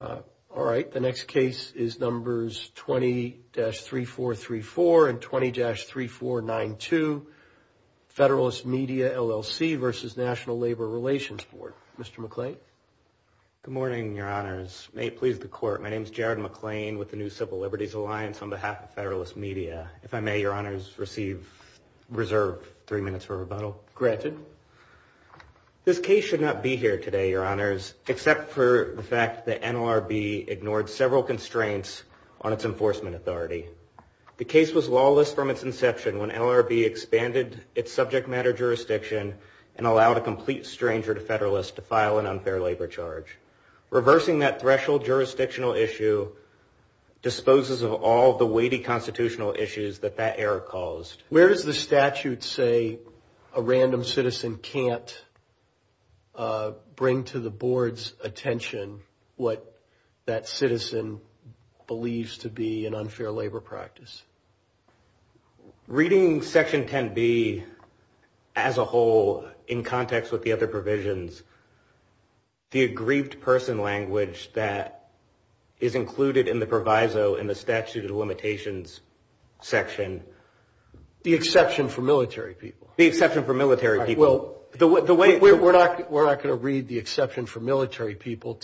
All right, the next case is numbers 20-3434 and 20-3492, FDRLST Media LLC v. National Labor Relations Board. Mr. McClain. Good morning, Your Honors. May it please the Court, my name is Jared McClain with the New Civil Liberties Alliance on behalf of FDRLST Media. If I may, Your Honors, reserve three minutes for rebuttal. Granted. This case should not be here today, Your Honors, except for the fact that NLRB ignored several constraints on its enforcement authority. The case was lawless from its inception when NLRB expanded its subject matter jurisdiction and allowed a complete stranger to FDRLST to file an unfair labor charge. Reversing that threshold jurisdictional issue disposes of all the weighty constitutional issues that that error caused. Where does the statute say a random citizen can't bring to the Board's attention what that citizen believes to be an unfair labor practice? Reading Section 10B as a whole in context with the other provisions, the aggrieved person language that is included in the proviso in the statute of limitations section. The exception for military people. The exception for military people. We're not going to read the exception for military people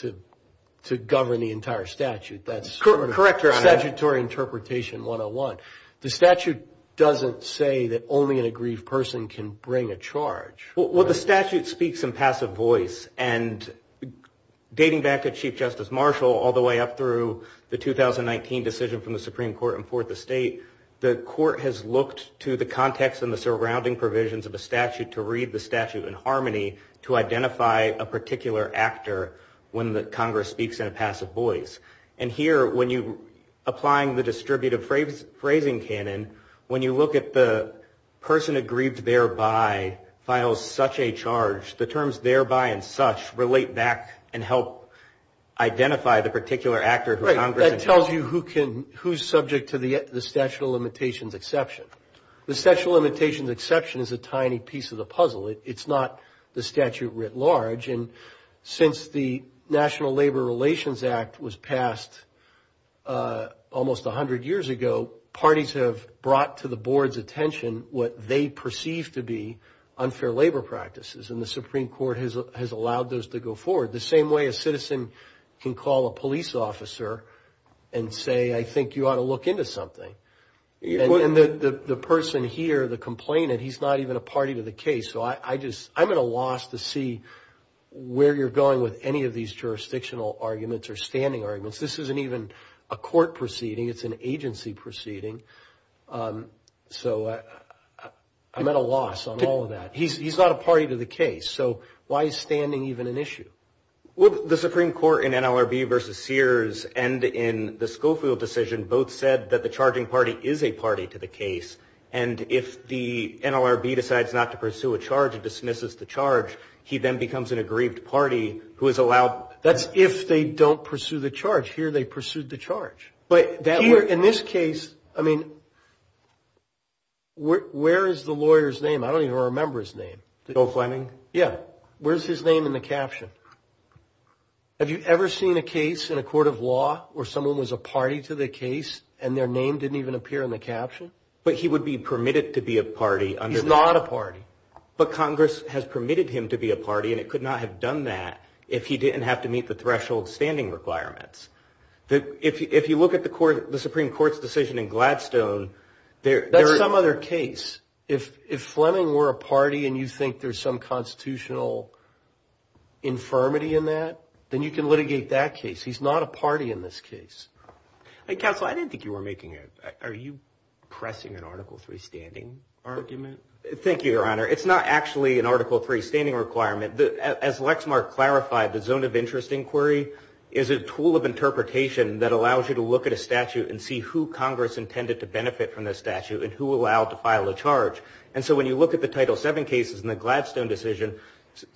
to govern the entire statute. That's sort of a statutory interpretation 101. The statute doesn't say that only an aggrieved person can bring a charge. Well, the statute speaks in passive voice. And dating back to Chief Justice Marshall all the way up through the 2019 decision from the Supreme Court in Fourth Estate, the court has looked to the context and the surrounding provisions of the statute to read the statute in harmony to identify a particular actor when the Congress speaks in a passive voice. And here when you're applying the distributive phrasing canon, when you look at the person aggrieved thereby files such a charge, the terms thereby and such relate back and help identify the particular actor who Congress. That tells you who's subject to the statute of limitations exception. The statute of limitations exception is a tiny piece of the puzzle. It's not the statute writ large. Since the National Labor Relations Act was passed almost 100 years ago, parties have brought to the board's attention what they perceive to be unfair labor practices, and the Supreme Court has allowed those to go forward the same way a citizen can call a police officer and say, I think you ought to look into something. And the person here, the complainant, he's not even a party to the case. So I'm at a loss to see where you're going with any of these jurisdictional arguments or standing arguments. This isn't even a court proceeding. It's an agency proceeding. So I'm at a loss on all of that. He's not a party to the case. So why is standing even an issue? Well, the Supreme Court in NLRB versus Sears and in the Schofield decision both said that the charging party is a party to the case, and if the NLRB decides not to pursue a charge and dismisses the charge, he then becomes an aggrieved party who is allowed. That's if they don't pursue the charge. Here they pursued the charge. But in this case, I mean, where is the lawyer's name? I don't even remember his name. Bill Fleming? Yeah. Where's his name in the caption? Have you ever seen a case in a court of law where someone was a party to the case and their name didn't even appear in the caption? But he would be permitted to be a party. He's not a party. But Congress has permitted him to be a party, and it could not have done that if he didn't have to meet the threshold standing requirements. If you look at the Supreme Court's decision in Gladstone, there is some other case. If Fleming were a party and you think there's some constitutional infirmity in that, then you can litigate that case. He's not a party in this case. Counsel, I didn't think you were making it. Are you pressing an Article III standing argument? Thank you, Your Honor. It's not actually an Article III standing requirement. As Lexmark clarified, the zone of interest inquiry is a tool of interpretation that allows you to look at a statute and see who Congress intended to benefit from this statute and who allowed to file a charge. And so when you look at the Title VII cases and the Gladstone decision,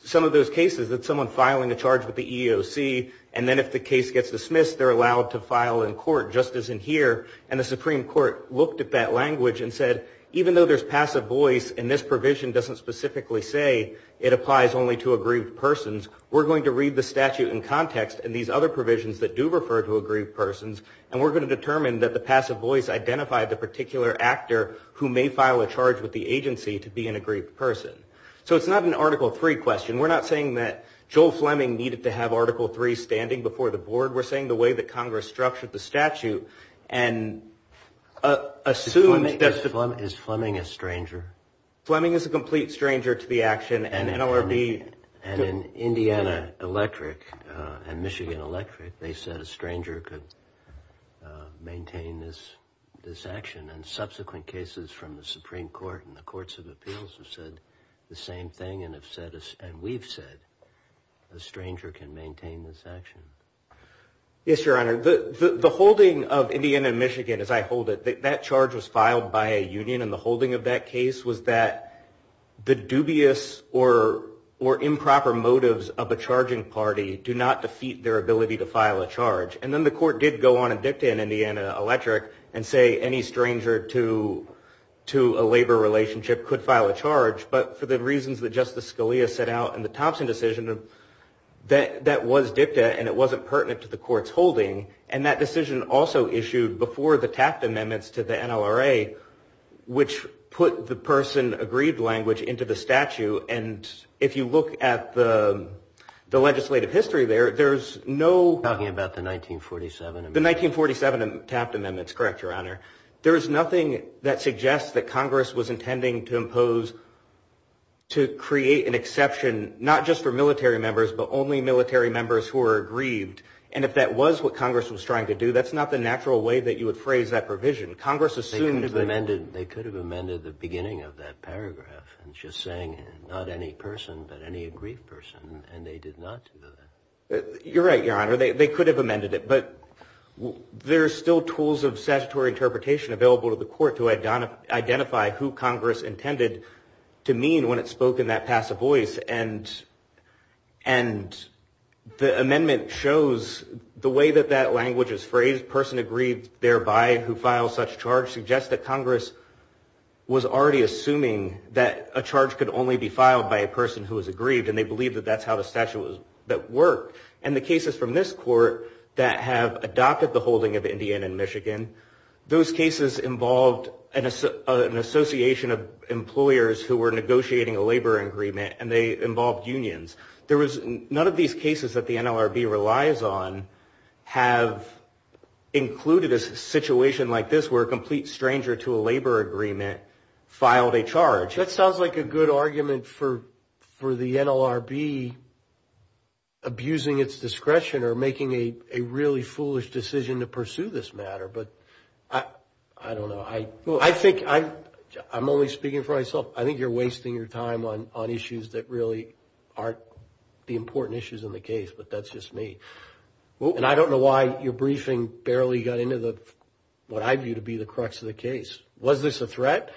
some of those cases that someone filing a charge with the EEOC, and then if the case gets dismissed, they're allowed to file in court just as in here. And the Supreme Court looked at that language and said, even though there's passive voice and this provision doesn't specifically say it applies only to aggrieved persons, we're going to read the statute in context and these other provisions that do refer to aggrieved persons, and we're going to determine that the passive voice identified the particular actor who may file a charge with the agency to be an aggrieved person. So it's not an Article III question. We're not saying that Joel Fleming needed to have Article III standing before the board. We're saying the way that Congress structured the statute and assumed that the- Is Fleming a stranger? Fleming is a complete stranger to the action and NLRB- And in Indiana Electric and Michigan Electric, they said a stranger could maintain this action. And subsequent cases from the Supreme Court and the courts of appeals have said the same thing and we've said a stranger can maintain this action. Yes, Your Honor. The holding of Indiana and Michigan, as I hold it, that charge was filed by a union, and the holding of that case was that the dubious or improper motives of a charging party do not defeat their ability to file a charge. And then the court did go on and dictate in Indiana Electric and say any stranger to a labor relationship could file a charge, but for the reasons that Justice Scalia set out in the Thompson decision, that was dicta and it wasn't pertinent to the court's holding. And that decision also issued before the Taft Amendments to the NLRA, which put the person aggrieved language into the statute. And if you look at the legislative history there, there's no- You're talking about the 1947- The 1947 Taft Amendments, correct, Your Honor. There is nothing that suggests that Congress was intending to impose, to create an exception, not just for military members but only military members who are aggrieved. And if that was what Congress was trying to do, that's not the natural way that you would phrase that provision. Congress assumed- They could have amended the beginning of that paragraph and just saying not any person but any aggrieved person, and they did not do that. You're right, Your Honor. They could have amended it, but there are still tools of statutory interpretation available to the court to identify who Congress intended to mean when it spoke in that passive voice. And the amendment shows the way that that language is phrased, person aggrieved thereby who files such charge, suggests that Congress was already assuming that a charge could only be filed by a person who was aggrieved, and they believe that that's how the statute was- that worked. And the cases from this court that have adopted the holding of Indiana and Michigan, those cases involved an association of employers who were negotiating a labor agreement, and they involved unions. None of these cases that the NLRB relies on have included a situation like this where a complete stranger to a labor agreement filed a charge. That sounds like a good argument for the NLRB abusing its discretion or making a really foolish decision to pursue this matter, but I don't know. I think I'm only speaking for myself. I think you're wasting your time on issues that really aren't the important issues in the case, but that's just me. And I don't know why your briefing barely got into what I view to be the crux of the case. Was this a threat?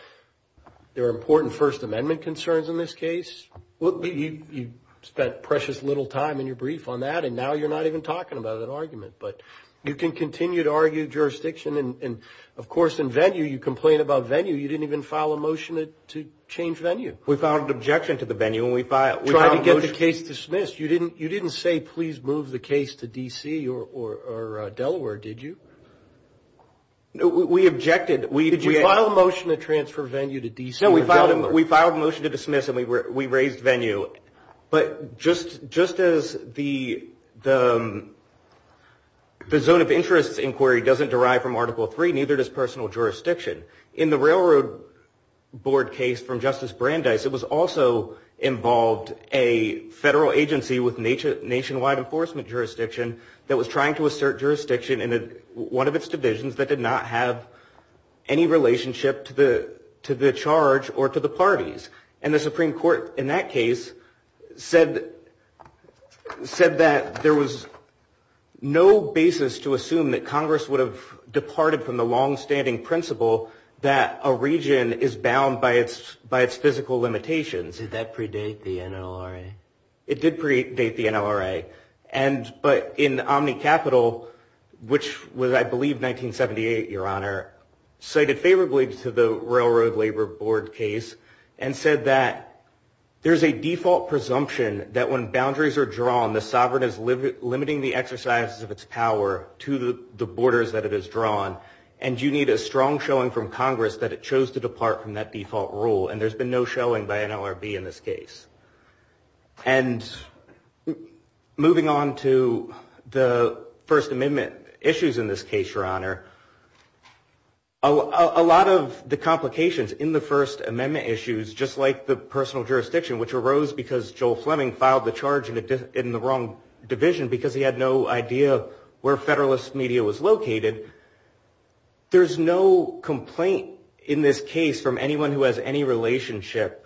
There are important First Amendment concerns in this case. You spent precious little time in your brief on that, and now you're not even talking about an argument. But you can continue to argue jurisdiction, and, of course, in venue, you complain about venue. You didn't even file a motion to change venue. We filed an objection to the venue, and we filed a motion- We tried to get the case dismissed. You didn't say, please move the case to D.C. or Delaware, did you? We objected. Did you file a motion to transfer venue to D.C. or Delaware? No, we filed a motion to dismiss, and we raised venue. But just as the zone of interest inquiry doesn't derive from Article III, neither does personal jurisdiction. In the railroad board case from Justice Brandeis, it also involved a federal agency with nationwide enforcement jurisdiction that was trying to assert jurisdiction in one of its divisions that did not have any relationship to the charge or to the parties. And the Supreme Court, in that case, said that there was no basis to assume that Congress would have departed from the longstanding principle that a region is bound by its physical limitations. Did that predate the NLRA? It did predate the NLRA. But in OmniCapital, which was, I believe, 1978, Your Honor, cited favorably to the railroad labor board case and said that there's a default presumption that when boundaries are drawn, the sovereign is limiting the exercise of its power to the borders that it has drawn, and you need a strong showing from Congress that it chose to depart from that default rule. And there's been no showing by NLRB in this case. And moving on to the First Amendment issues in this case, Your Honor, a lot of the complications in the First Amendment issues, just like the personal jurisdiction, which arose because Joel Fleming filed the charge in the wrong division because he had no idea where Federalist Media was located, there's no complaint in this case from anyone who has any relationship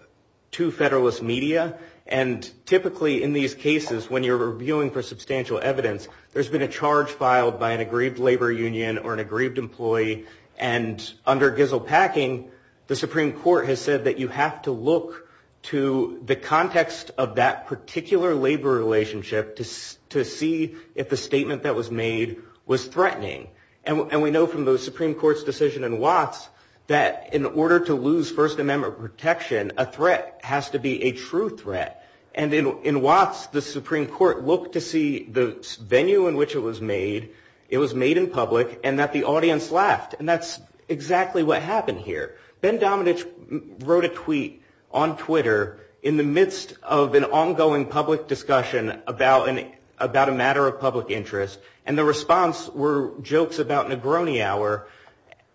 to Federalist Media. And typically in these cases, when you're reviewing for substantial evidence, there's been a charge filed by an aggrieved labor union or an aggrieved employee, and under Gizel Packing, the Supreme Court has said that you have to look to the context of that particular labor relationship to see if the statement that was made was threatening. And we know from the Supreme Court's decision in Watts that in order to lose First Amendment protection, a threat has to be a true threat. And in Watts, the Supreme Court looked to see the venue in which it was made, it was made in public, and that the audience laughed. And that's exactly what happened here. Ben Domenech wrote a tweet on Twitter in the midst of an ongoing public discussion about a matter of public interest, and the response were jokes about Negroni Hour.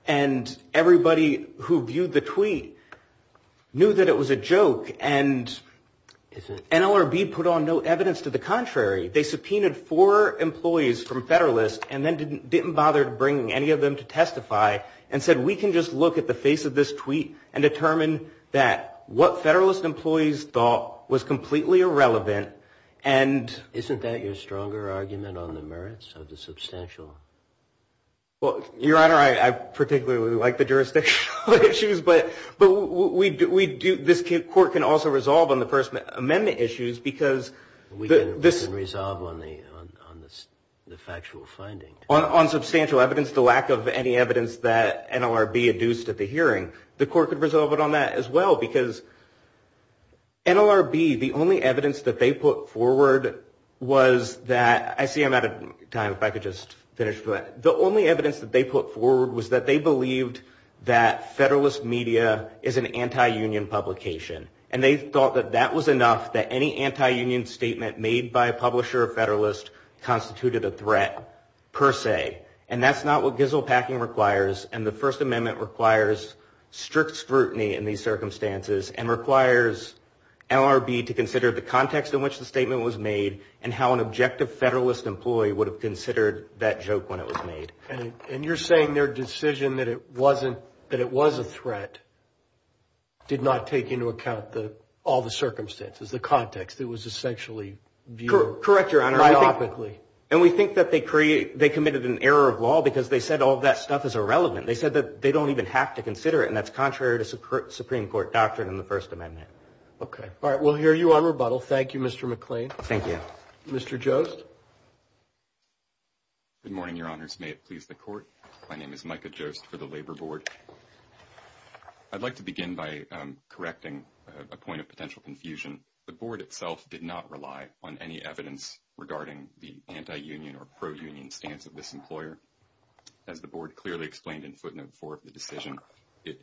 And everybody who viewed the tweet knew that it was a joke. And NLRB put on no evidence to the contrary. They subpoenaed four employees from Federalist and then didn't bother bringing any of them to testify and said we can just look at the face of this tweet and determine that what Federalist employees thought was completely irrelevant. And isn't that your stronger argument on the merits of the substantial? Well, Your Honor, I particularly like the jurisdictional issues, but this court can also resolve on the First Amendment issues because this... We can resolve on the factual finding. On substantial evidence, the lack of any evidence that NLRB adduced at the hearing, the court could resolve it on that as well because NLRB, the only evidence that they put forward was that, I see I'm out of time. If I could just finish, but the only evidence that they put forward was that they believed that Federalist media is an anti-union publication, and they thought that that was enough that any anti-union statement made by a publisher of Federalist constituted a threat per se. And that's not what gizzle packing requires, and the First Amendment requires strict scrutiny in these circumstances and requires NLRB to consider the context in which the statement was made and how an objective Federalist employee would have considered that joke when it was made. And you're saying their decision that it was a threat did not take into account all the circumstances, the context that was essentially viewed... Correct, Your Honor. ...myopically. And we think that they committed an error of law because they said all that stuff is irrelevant. They said that they don't even have to consider it, and that's contrary to Supreme Court doctrine and the First Amendment. Okay. All right, we'll hear you on rebuttal. Thank you, Mr. McClain. Thank you. Mr. Jost. Good morning, Your Honors. May it please the Court. My name is Micah Jost for the Labor Board. I'd like to begin by correcting a point of potential confusion. The Board itself did not rely on any evidence regarding the anti-union or pro-union stance of this employer. As the Board clearly explained in footnote 4 of the decision, it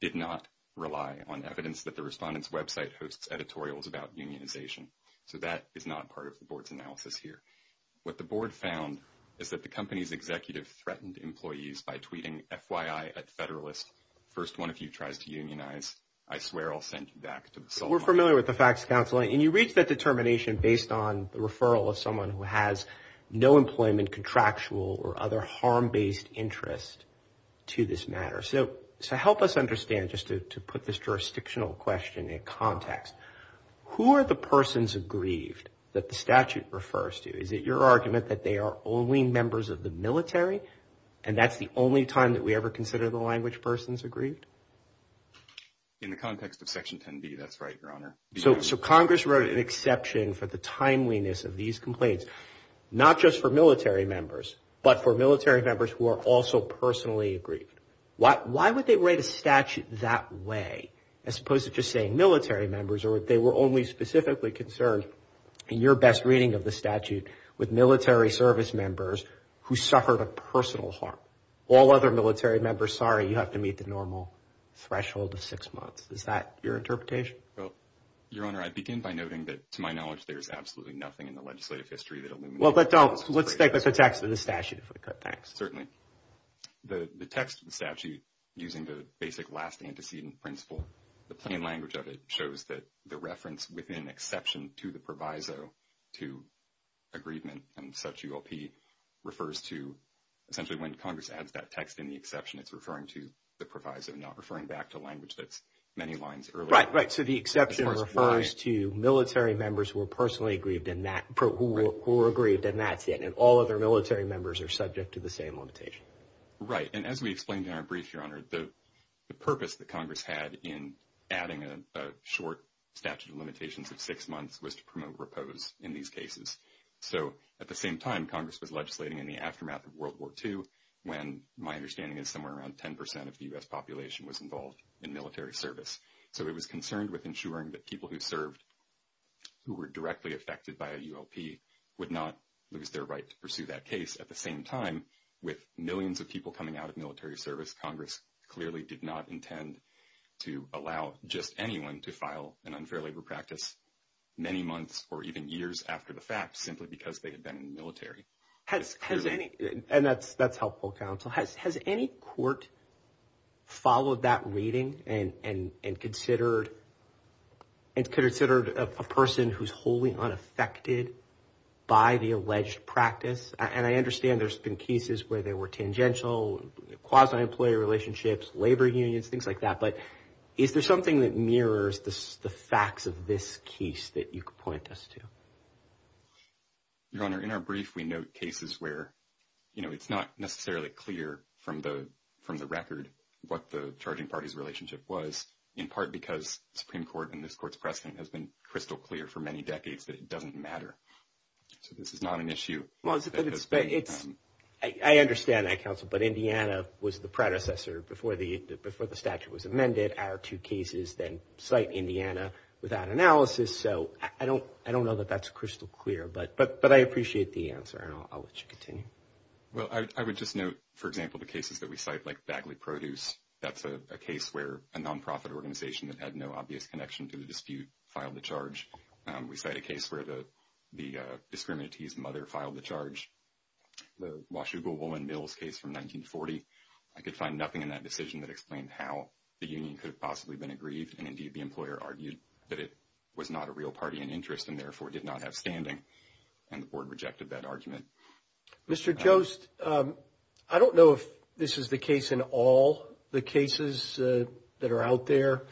did not rely on evidence that the Respondent's website hosts editorials about unionization. So that is not part of the Board's analysis here. What the Board found is that the company's executive threatened employees by tweeting, FYI, at Federalist, first one of you tries to unionize, I swear I'll send you back to the Solomons. We're familiar with the facts, Counselor. And you reached that determination based on the referral of someone who has no employment, contractual, or other harm-based interest to this matter. So help us understand, just to put this jurisdictional question in context, who are the persons aggrieved that the statute refers to? Is it your argument that they are only members of the military and that's the only time that we ever consider the language persons aggrieved? In the context of Section 10B, that's right, Your Honor. So Congress wrote an exception for the timeliness of these complaints, not just for military members, but for military members who are also personally aggrieved. Why would they write a statute that way as opposed to just saying military members or if they were only specifically concerned, in your best reading of the statute, with military service members who suffered a personal harm? All other military members, sorry, you have to meet the normal threshold of six months. Is that your interpretation? Well, Your Honor, I begin by noting that, to my knowledge, there is absolutely nothing in the legislative history that illuminates that. Well, but don't. Let's stick with the text of the statute if we could, thanks. Certainly. The text of the statute, using the basic last antecedent principle, the plain language of it shows that the reference within exception to the proviso to aggrievement and such ULP refers to essentially when Congress adds that text in the exception, it's referring to the proviso, not referring back to language that's many lines earlier. Right, right. So the exception refers to military members who were personally aggrieved in that, and all other military members are subject to the same limitation. Right, and as we explained in our brief, Your Honor, the purpose that Congress had in adding a short statute of limitations of six months was to promote repose in these cases. So at the same time, Congress was legislating in the aftermath of World War II when my understanding is somewhere around 10% of the U.S. population was involved in military service. So it was concerned with ensuring that people who served, who were directly affected by a ULP, would not lose their right to pursue that case. At the same time, with millions of people coming out of military service, Congress clearly did not intend to allow just anyone to file an unfair labor practice many months or even years after the fact simply because they had been in the military. And that's helpful, counsel. Has any court followed that reading and considered a person who's wholly unaffected by the alleged practice? And I understand there's been cases where they were tangential, quasi-employee relationships, labor unions, things like that. But is there something that mirrors the facts of this case that you could point us to? Your Honor, in our brief, we note cases where it's not necessarily clear from the record what the charging party's relationship was, in part because Supreme Court and this Court's precedent has been crystal clear for many decades that it doesn't matter. So this is not an issue. I understand that, counsel. But Indiana was the predecessor before the statute was amended. Our two cases then cite Indiana without analysis. So I don't know that that's crystal clear. But I appreciate the answer, and I'll let you continue. Well, I would just note, for example, the cases that we cite like Bagley Produce. That's a case where a nonprofit organization that had no obvious connection to the dispute filed the charge. We cite a case where the discriminatee's mother filed the charge. The Washougal Woman Mills case from 1940. I could find nothing in that decision that explained how the union could have possibly been aggrieved. And, indeed, the employer argued that it was not a real party in interest and therefore did not have standing, and the Board rejected that argument. Mr. Jost, I don't know if this is the case in all the cases that are out there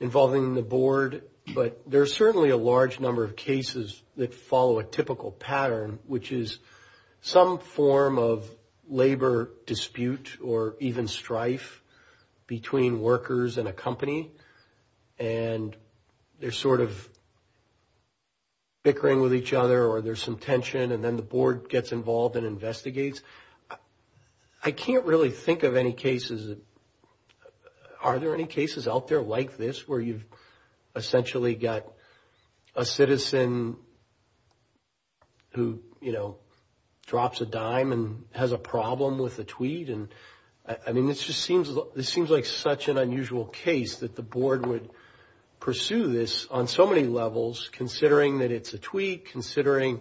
involving the Board, but there are certainly a large number of cases that follow a typical pattern, which is some form of labor dispute or even strife between workers and a company. And they're sort of bickering with each other, or there's some tension, and then the Board gets involved and investigates. I can't really think of any cases. Are there any cases out there like this where you've essentially got a citizen who, you know, drops a dime and has a problem with a tweet? And, I mean, this just seems like such an unusual case that the Board would pursue this on so many levels, considering that it's a tweet, considering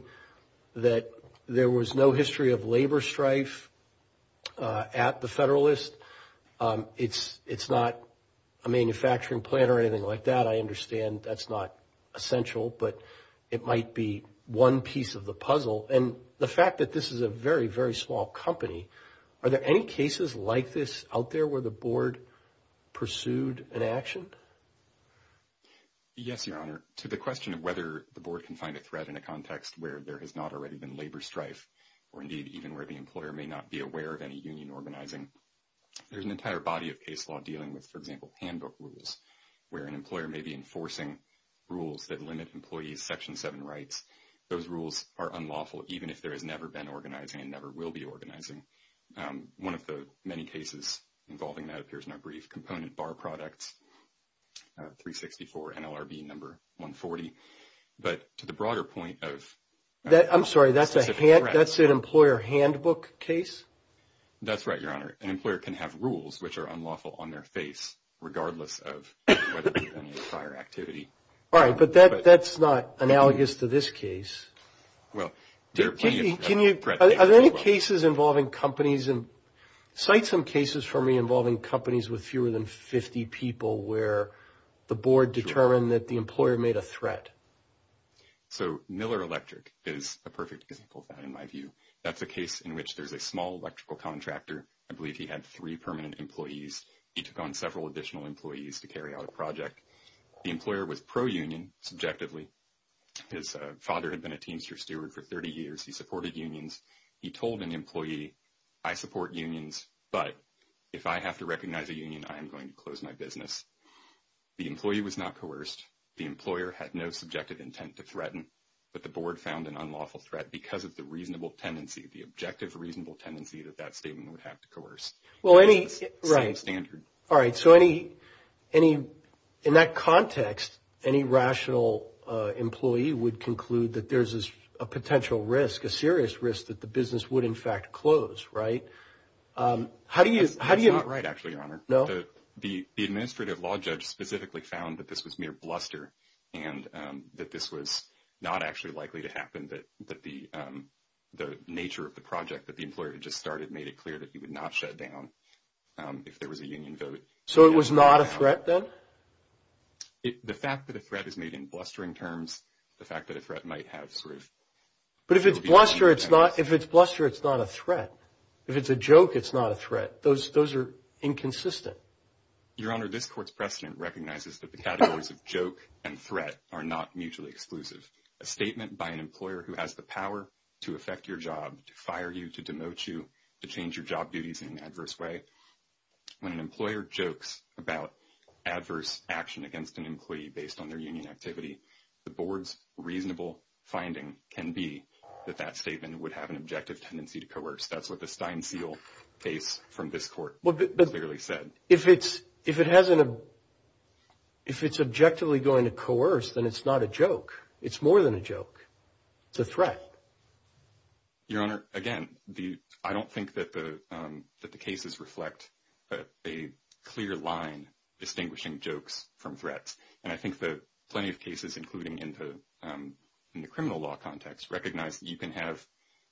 that there was no history of labor strife at the Federalist. It's not a manufacturing plant or anything like that. I understand that's not essential, but it might be one piece of the puzzle. And the fact that this is a very, very small company, are there any cases like this out there where the Board pursued an action? Yes, Your Honor. To the question of whether the Board can find a threat in a context where there has not already been labor strife, or indeed even where the employer may not be aware of any union organizing, there's an entire body of case law dealing with, for example, handbook rules, where an employer may be enforcing rules that limit employees' Section 7 rights. Those rules are unlawful, even if there has never been organizing and never will be organizing. One of the many cases involving that appears in our brief. Component bar products, 364 NLRB number 140. But to the broader point of... I'm sorry, that's an employer handbook case? That's right, Your Honor. An employer can have rules which are unlawful on their face, regardless of whether there's any prior activity. All right, but that's not analogous to this case. Are there any cases involving companies? Cite some cases for me involving companies with fewer than 50 people where the Board determined that the employer made a threat. So Miller Electric is a perfect example of that, in my view. That's a case in which there's a small electrical contractor. I believe he had three permanent employees. He took on several additional employees to carry out a project. The employer was pro-union, subjectively. His father had been a teamster steward for 30 years. He supported unions. He told an employee, I support unions, but if I have to recognize a union, I am going to close my business. The employee was not coerced. The employer had no subjective intent to threaten, but the Board found an unlawful threat because of the reasonable tendency, the objective reasonable tendency that that statement would have to coerce. Well, any... Right. Same standard. All right. So any... In that context, any rational employee would conclude that there's a potential risk, a serious risk, that the business would, in fact, close, right? How do you... That's not right, actually, Your Honor. No? The administrative law judge specifically found that this was mere bluster and that this was not actually likely to happen, that the nature of the project that the employer had just started made it clear that he would not shut down if there was a union vote. So it was not a threat, then? The fact that a threat is made in blustering terms, the fact that a threat might have sort of... But if it's bluster, it's not a threat. If it's a joke, it's not a threat. Those are inconsistent. Your Honor, this Court's precedent recognizes that the categories of joke and threat are not mutually exclusive. A statement by an employer who has the power to affect your job, to fire you, to demote you, to change your job duties in an adverse way, when an employer jokes about adverse action against an employee based on their union activity, the Board's reasonable finding can be that that statement would have an objective tendency to coerce. That's what the Stein-Seal case from this Court clearly said. If it's objectively going to coerce, then it's not a joke. It's more than a joke. It's a threat. Your Honor, again, I don't think that the cases reflect a clear line distinguishing jokes from threats. And I think that plenty of cases, including in the criminal law context, recognize that you can have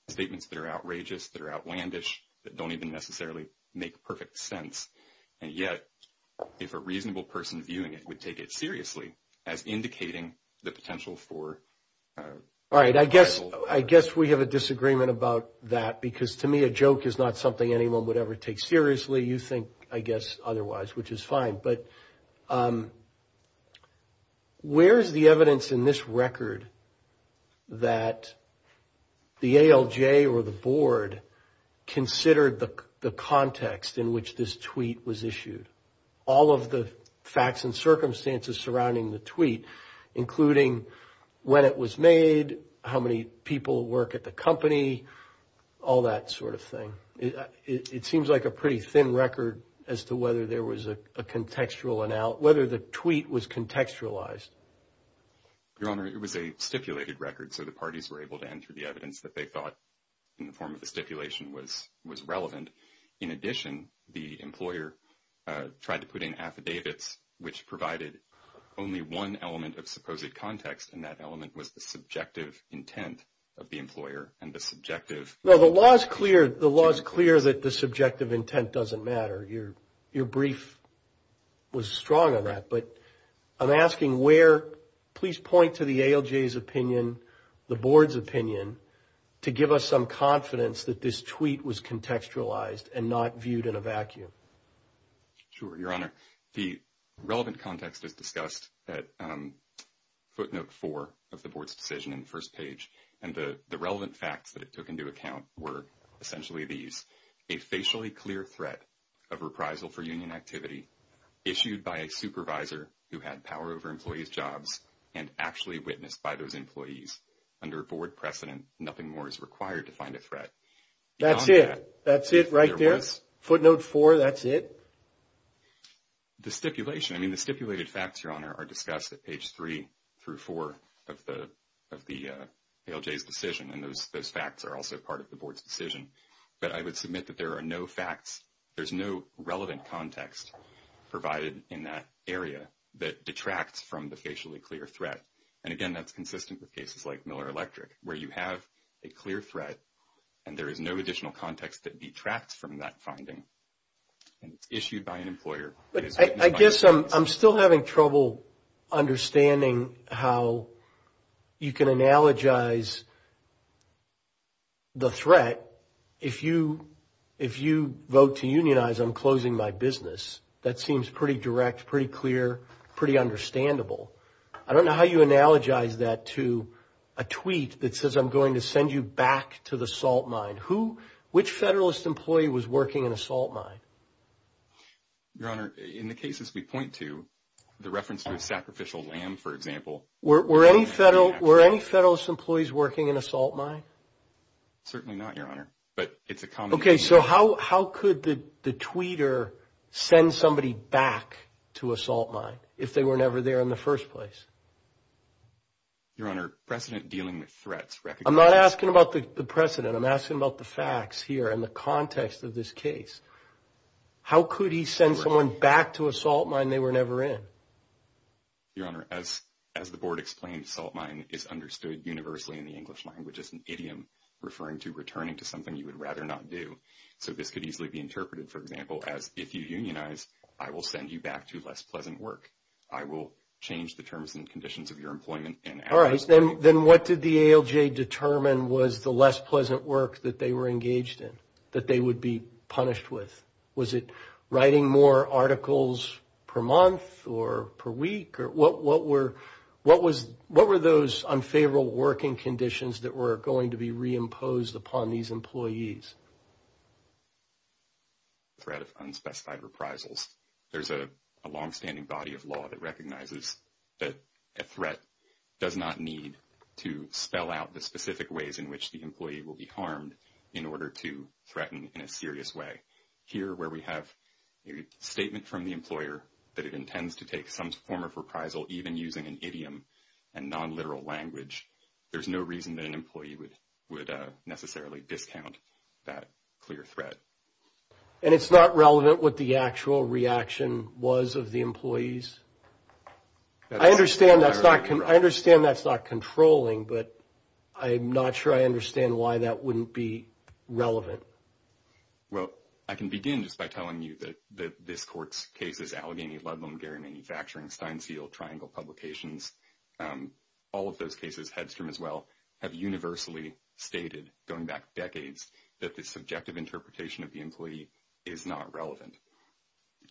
statements that are outrageous, that are outlandish, that don't even necessarily make perfect sense. And yet, if a reasonable person viewing it would take it seriously as indicating the potential for... All right, I guess we have a disagreement about that because, to me, a joke is not something anyone would ever take seriously. You think, I guess, otherwise, which is fine. But where is the evidence in this record that the ALJ or the Board considered the context in which this tweet was issued? All of the facts and circumstances surrounding the tweet, including when it was made, how many people work at the company, all that sort of thing. It seems like a pretty thin record as to whether the tweet was contextualized. Your Honor, it was a stipulated record, so the parties were able to enter the evidence that they thought, in the form of the stipulation, was relevant. In addition, the employer tried to put in affidavits which provided only one element of supposed context, and that element was the subjective intent of the employer and the subjective... No, the law is clear that the subjective intent doesn't matter. Your brief was strong on that. But I'm asking where, please point to the ALJ's opinion, the Board's opinion, to give us some confidence that this tweet was contextualized and not viewed in a vacuum. Sure, Your Honor. The relevant context is discussed at footnote four of the Board's decision in the first page, and the relevant facts that it took into account were essentially these. A facially clear threat of reprisal for union activity issued by a supervisor who had power over employees' jobs and actually witnessed by those employees. Under Board precedent, nothing more is required to find a threat. That's it. That's it right there? Footnote four, that's it? The stipulation, I mean, the stipulated facts, Your Honor, are discussed at page three through four of the ALJ's decision, and those facts are also part of the Board's decision. But I would submit that there are no facts, there's no relevant context provided in that area that detracts from the facially clear threat. And, again, that's consistent with cases like Miller Electric, where you have a clear threat and there is no additional context that detracts from that finding. And it's issued by an employer. I guess I'm still having trouble understanding how you can analogize the threat. If you vote to unionize, I'm closing my business. That seems pretty direct, pretty clear, pretty understandable. I don't know how you analogize that to a tweet that says, I'm going to send you back to the salt mine. Which Federalist employee was working in a salt mine? Your Honor, in the cases we point to, the reference to a sacrificial lamb, for example. Were any Federalist employees working in a salt mine? Certainly not, Your Honor. Okay, so how could the tweeter send somebody back to a salt mine if they were never there in the first place? Your Honor, precedent dealing with threats. I'm not asking about the precedent. I'm asking about the facts here and the context of this case. How could he send someone back to a salt mine they were never in? Your Honor, as the Board explained, salt mine is understood universally in the English language as an idiom referring to returning to something you would rather not do. So this could easily be interpreted, for example, as if you unionize, I will send you back to less pleasant work. I will change the terms and conditions of your employment. All right, then what did the ALJ determine was the less pleasant work that they were engaged in, that they would be punished with? Was it writing more articles per month or per week? What were those unfavorable working conditions that were going to be reimposed upon these employees? The threat of unspecified reprisals. There's a longstanding body of law that recognizes that a threat does not need to spell out the specific ways in which the employee will be harmed in order to threaten in a serious way. Here, where we have a statement from the employer that it intends to take some form of reprisal, even using an idiom and nonliteral language, there's no reason that an employee would necessarily discount that clear threat. And it's not relevant what the actual reaction was of the employees? I understand that's not controlling, but I'm not sure I understand why that wouldn't be relevant. Well, I can begin just by telling you that this court's cases, Allegheny Ludlum, Gary Manufacturing, Steinsteel, Triangle Publications, all of those cases, Hedstrom as well, have universally stated, going back decades, that the subjective interpretation of the employee is not relevant.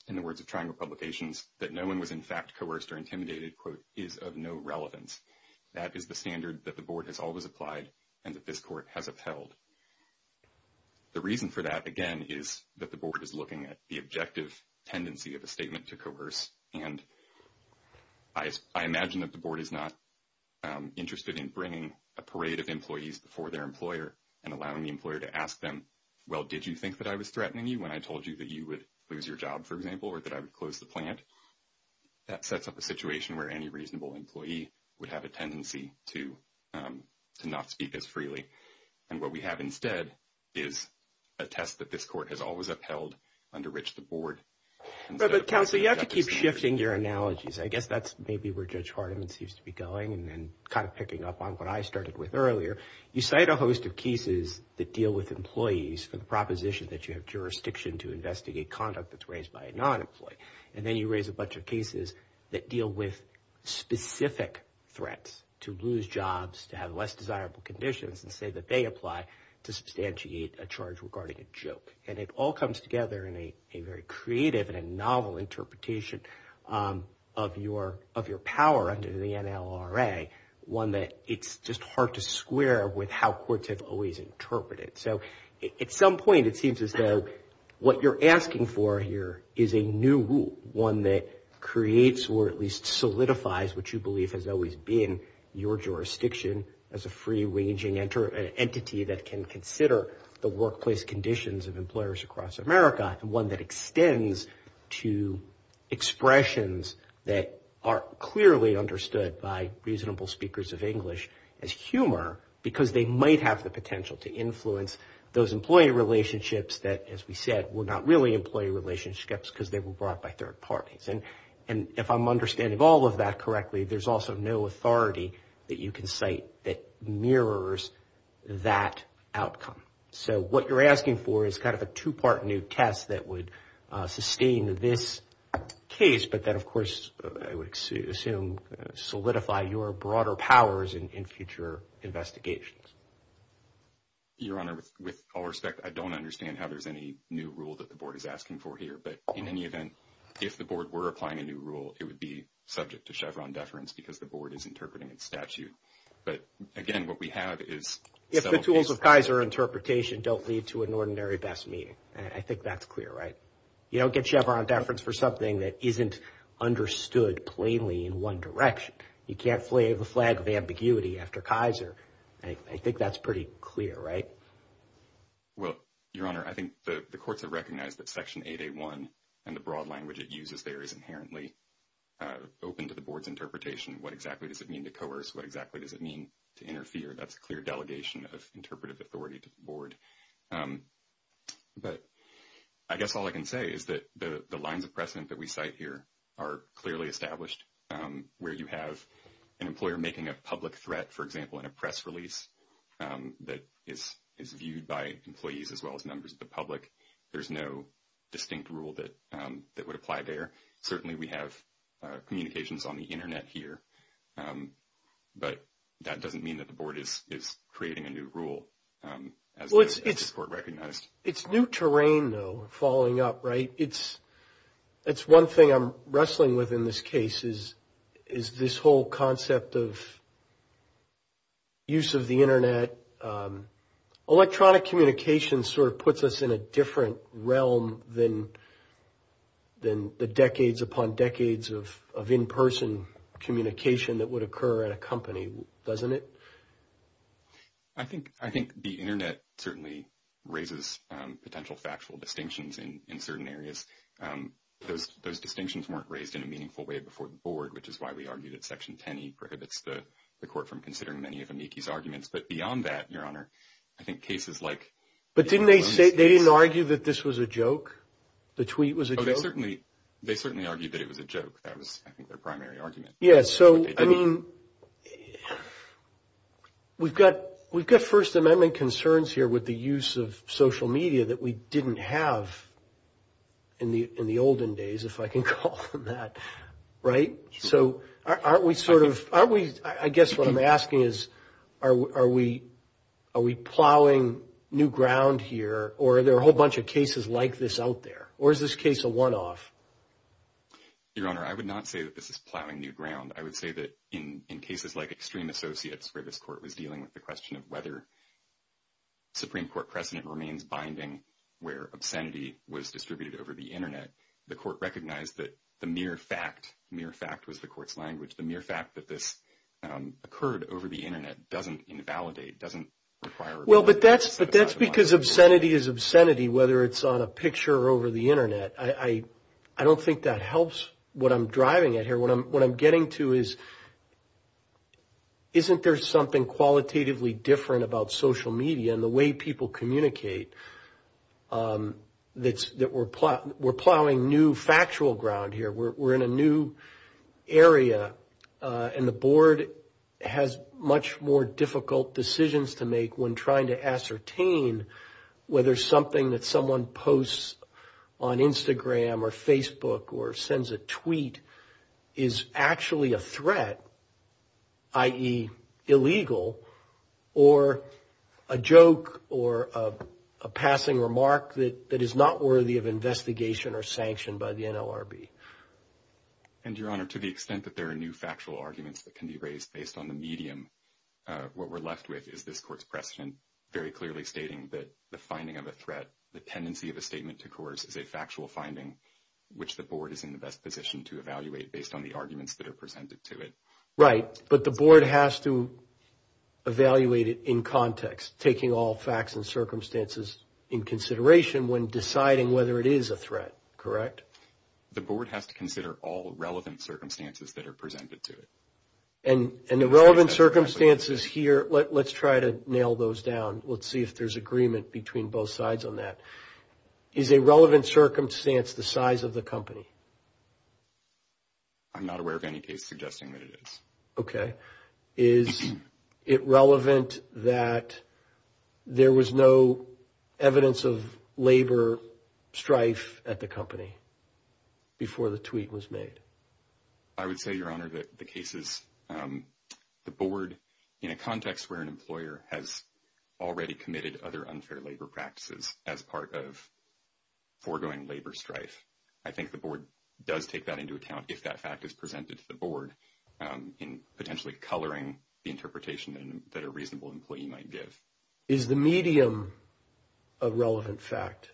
In the words of Triangle Publications, that no one was in fact coerced or intimidated, quote, is of no relevance. That is the standard that the board has always applied and that this court has upheld. The reason for that, again, is that the board is looking at the objective tendency of a statement to coerce. And I imagine that the board is not interested in bringing a parade of employees before their employer and allowing the employer to ask them, well, did you think that I was threatening you when I told you that you would lose your job, for example, or that I would close the plant? That sets up a situation where any reasonable employee would have a tendency to not speak as freely. And what we have instead is a test that this court has always upheld under which the board. But counsel, you have to keep shifting your analogies. I guess that's maybe where Judge Hardiman seems to be going and kind of picking up on what I started with earlier. You cite a host of cases that deal with employees, the proposition that you have jurisdiction to investigate conduct that's raised by a non-employee. And then you raise a bunch of cases that deal with specific threats to lose jobs, to have less desirable conditions and say that they apply to substantiate a charge regarding a joke. And it all comes together in a very creative and a novel interpretation of your power under the NLRA, one that it's just hard to square with how courts have always interpreted. So at some point it seems as though what you're asking for here is a new rule, one that creates or at least solidifies what you believe has always been your jurisdiction as a free-ranging entity that can consider the workplace conditions of employers across America and one that extends to expressions that are clearly understood by reasonable speakers of English as humor because they might have the potential to influence those employee relationships that, as we said, were not really employee relationships because they were brought by third parties. And if I'm understanding all of that correctly, there's also no authority that you can cite that mirrors that outcome. So what you're asking for is kind of a two-part new test that would sustain this case, but then, of course, I would assume solidify your broader powers in future investigations. Your Honor, with all respect, I don't understand how there's any new rule that the board is asking for here. But in any event, if the board were applying a new rule, it would be subject to Chevron deference because the board is interpreting its statute. But, again, what we have is – If the tools of Kaiser interpretation don't lead to an ordinary best meeting. I think that's clear, right? You don't get Chevron deference for something that isn't understood plainly in one direction. You can't wave a flag of ambiguity after Kaiser. I think that's pretty clear, right? Well, Your Honor, I think the courts have recognized that Section 881 and the broad language it uses there is inherently open to the board's interpretation. What exactly does it mean to coerce? What exactly does it mean to interfere? That's a clear delegation of interpretive authority to the board. But I guess all I can say is that the lines of precedent that we cite here are clearly established, where you have an employer making a public threat, for example, in a press release that is viewed by employees as well as members of the public. There's no distinct rule that would apply there. Certainly, we have communications on the Internet here. But that doesn't mean that the board is creating a new rule as the court recognized. It's new terrain, though, falling up, right? It's one thing I'm wrestling with in this case is this whole concept of use of the Internet. Electronic communication sort of puts us in a different realm than the decades upon decades of in-person communication that would occur at a company, doesn't it? I think the Internet certainly raises potential factual distinctions in certain areas. Those distinctions weren't raised in a meaningful way before the board, which is why we argued that Section 10E prohibits the court from considering many of amici's arguments. But beyond that, Your Honor, I think cases like- But didn't they say they didn't argue that this was a joke? The tweet was a joke? They certainly argued that it was a joke. That was, I think, their primary argument. Yeah, so, I mean, we've got First Amendment concerns here with the use of social media that we didn't have in the olden days, if I can call them that, right? So aren't we sort of – I guess what I'm asking is are we plowing new ground here or are there a whole bunch of cases like this out there? Or is this case a one-off? Your Honor, I would not say that this is plowing new ground. I would say that in cases like extreme associates where this court was dealing with the question of whether Supreme Court precedent remains binding where obscenity was distributed over the Internet, the court recognized that the mere fact – mere fact was the court's language – the mere fact that this occurred over the Internet doesn't invalidate, doesn't require- Well, but that's because obscenity is obscenity whether it's on a picture or over the Internet. I don't think that helps what I'm driving at here. What I'm getting to is isn't there something qualitatively different about social media and the way people communicate that we're plowing new factual ground here? We're in a new area, and the Board has much more difficult decisions to make when trying to ascertain whether something that someone posts on Instagram or Facebook or sends a tweet is actually a threat, i.e., illegal, or a joke or a passing remark that is not worthy of investigation or sanction by the NLRB. And, Your Honor, to the extent that there are new factual arguments that can be raised based on the medium, what we're left with is this court's precedent very clearly stating that the finding of a threat, the tendency of a statement to coerce, is a factual finding, which the Board is in the best position to evaluate based on the arguments that are presented to it. Right, but the Board has to evaluate it in context, taking all facts and circumstances in consideration when deciding whether it is a threat, correct? The Board has to consider all relevant circumstances that are presented to it. And the relevant circumstances here, let's try to nail those down. Let's see if there's agreement between both sides on that. Is a relevant circumstance the size of the company? I'm not aware of any case suggesting that it is. Okay. Is it relevant that there was no evidence of labor strife at the company before the tweet was made? I would say, Your Honor, that the case is the Board in a context where an employer has already committed other unfair labor practices as part of foregoing labor strife. I think the Board does take that into account if that fact is presented to the Board in potentially coloring the interpretation that a reasonable employee might give. Is the medium a relevant fact?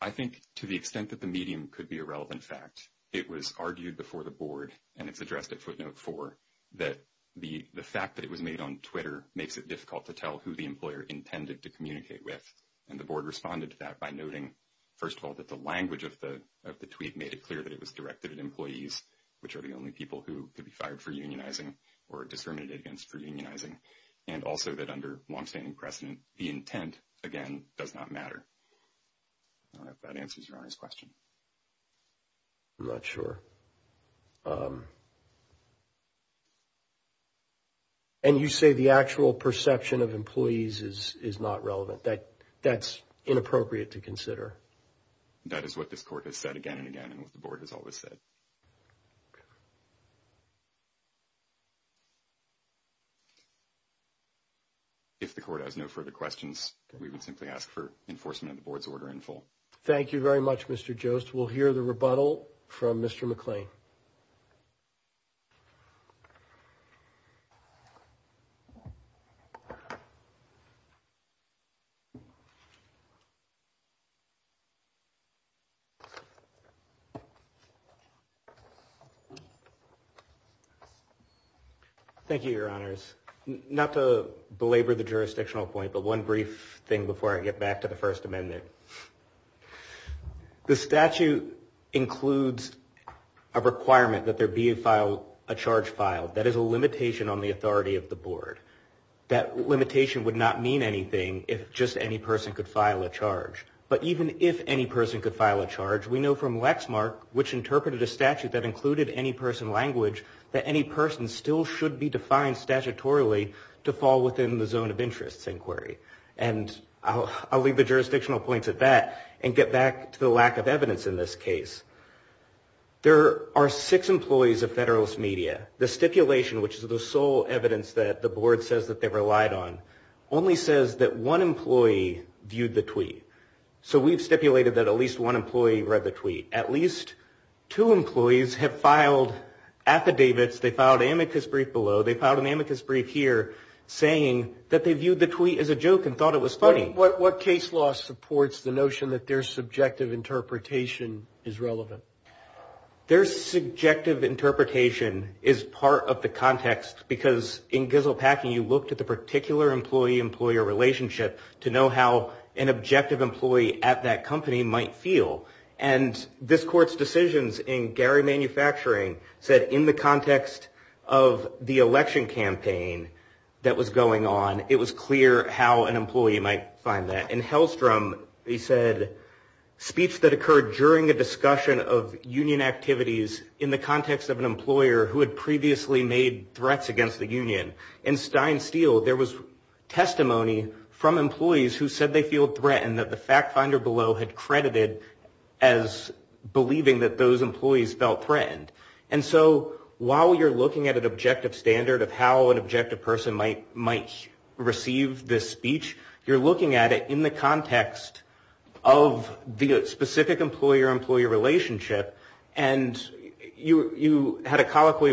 I think to the extent that the medium could be a relevant fact, it was argued before the Board, and it's addressed at footnote 4, that the fact that it was made on Twitter makes it difficult to tell who the employer intended to communicate with. And the Board responded to that by noting, first of all, that the language of the tweet made it clear that it was directed at employees, which are the only people who could be fired for unionizing or discriminated against for unionizing, and also that under longstanding precedent, the intent, again, does not matter. I don't know if that answers Your Honor's question. I'm not sure. And you say the actual perception of employees is not relevant. That's inappropriate to consider. That is what this Court has said again and again and what the Board has always said. If the Court has no further questions, we would simply ask for enforcement of the Board's order in full. Thank you very much, Mr. Jost. We'll hear the rebuttal from Mr. McClain. Thank you, Your Honors. Not to belabor the jurisdictional point, but one brief thing before I get back to the First Amendment. The statute includes a requirement that there be a charge filed. That is a limitation on the authority of the Board. That limitation would not mean anything if just any person could file a charge. But even if any person could file a charge, we know from Lexmark, which interpreted a statute that included any person language, that any person still should be defined statutorily to fall within the zone of interest inquiry. And I'll leave the jurisdictional points at that and get back to the lack of evidence in this case. There are six employees of Federalist Media. The stipulation, which is the sole evidence that the Board says that they relied on, only says that one employee viewed the tweet. So we've stipulated that at least one employee read the tweet. At least two employees have filed affidavits. They filed an amicus brief below, they filed an amicus brief here, saying that they viewed the tweet as a joke and thought it was funny. What case law supports the notion that their subjective interpretation is relevant? Their subjective interpretation is part of the context, because in Gizzle Packing, you looked at the particular employee-employer relationship to know how an objective employee at that company might feel. And this Court's decisions in Gary Manufacturing said, in the context of the election campaign that was going on, it was clear how an employee might find that. In Hellstrom, they said, speech that occurred during a discussion of union activities in the context of an employer who had previously made threats against the union. In Stein Steel, there was testimony from employees who said they feel threatened, that the fact finder below had credited as believing that those employees felt threatened. And so while you're looking at an objective standard of how an objective person might receive this speech, you're looking at it in the context of the specific employer-employee relationship, and you had a colloquy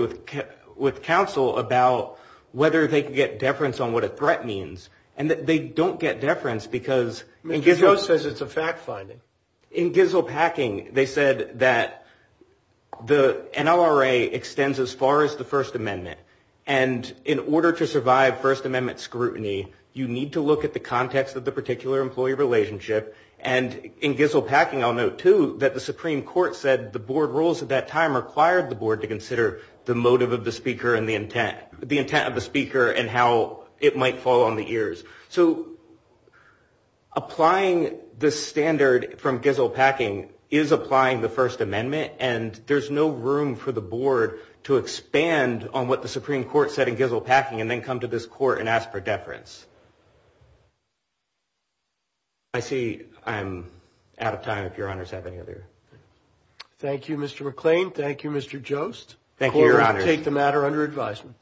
with counsel about whether they could get deference on what a threat means. And they don't get deference, because in Gizzle Packing, they said that the NLRA extends as far as the First Amendment, and in order to survive First Amendment scrutiny, you need to look at the context of the particular employee relationship. And in Gizzle Packing, I'll note, too, that the Supreme Court said the board rules at that time required the board to consider the motive of the speaker and the intent of the speaker and how it might fall on the ears. So applying the standard from Gizzle Packing is applying the First Amendment, and there's no room for the board to expand on what the Supreme Court said in Gizzle Packing and then come to this court and ask for deference. I see I'm out of time, if Your Honors have any other questions. Thank you, Mr. McClain. Thank you, Mr. Jost. Thank you, Your Honors. The court will take the matter under advisement. Thank you.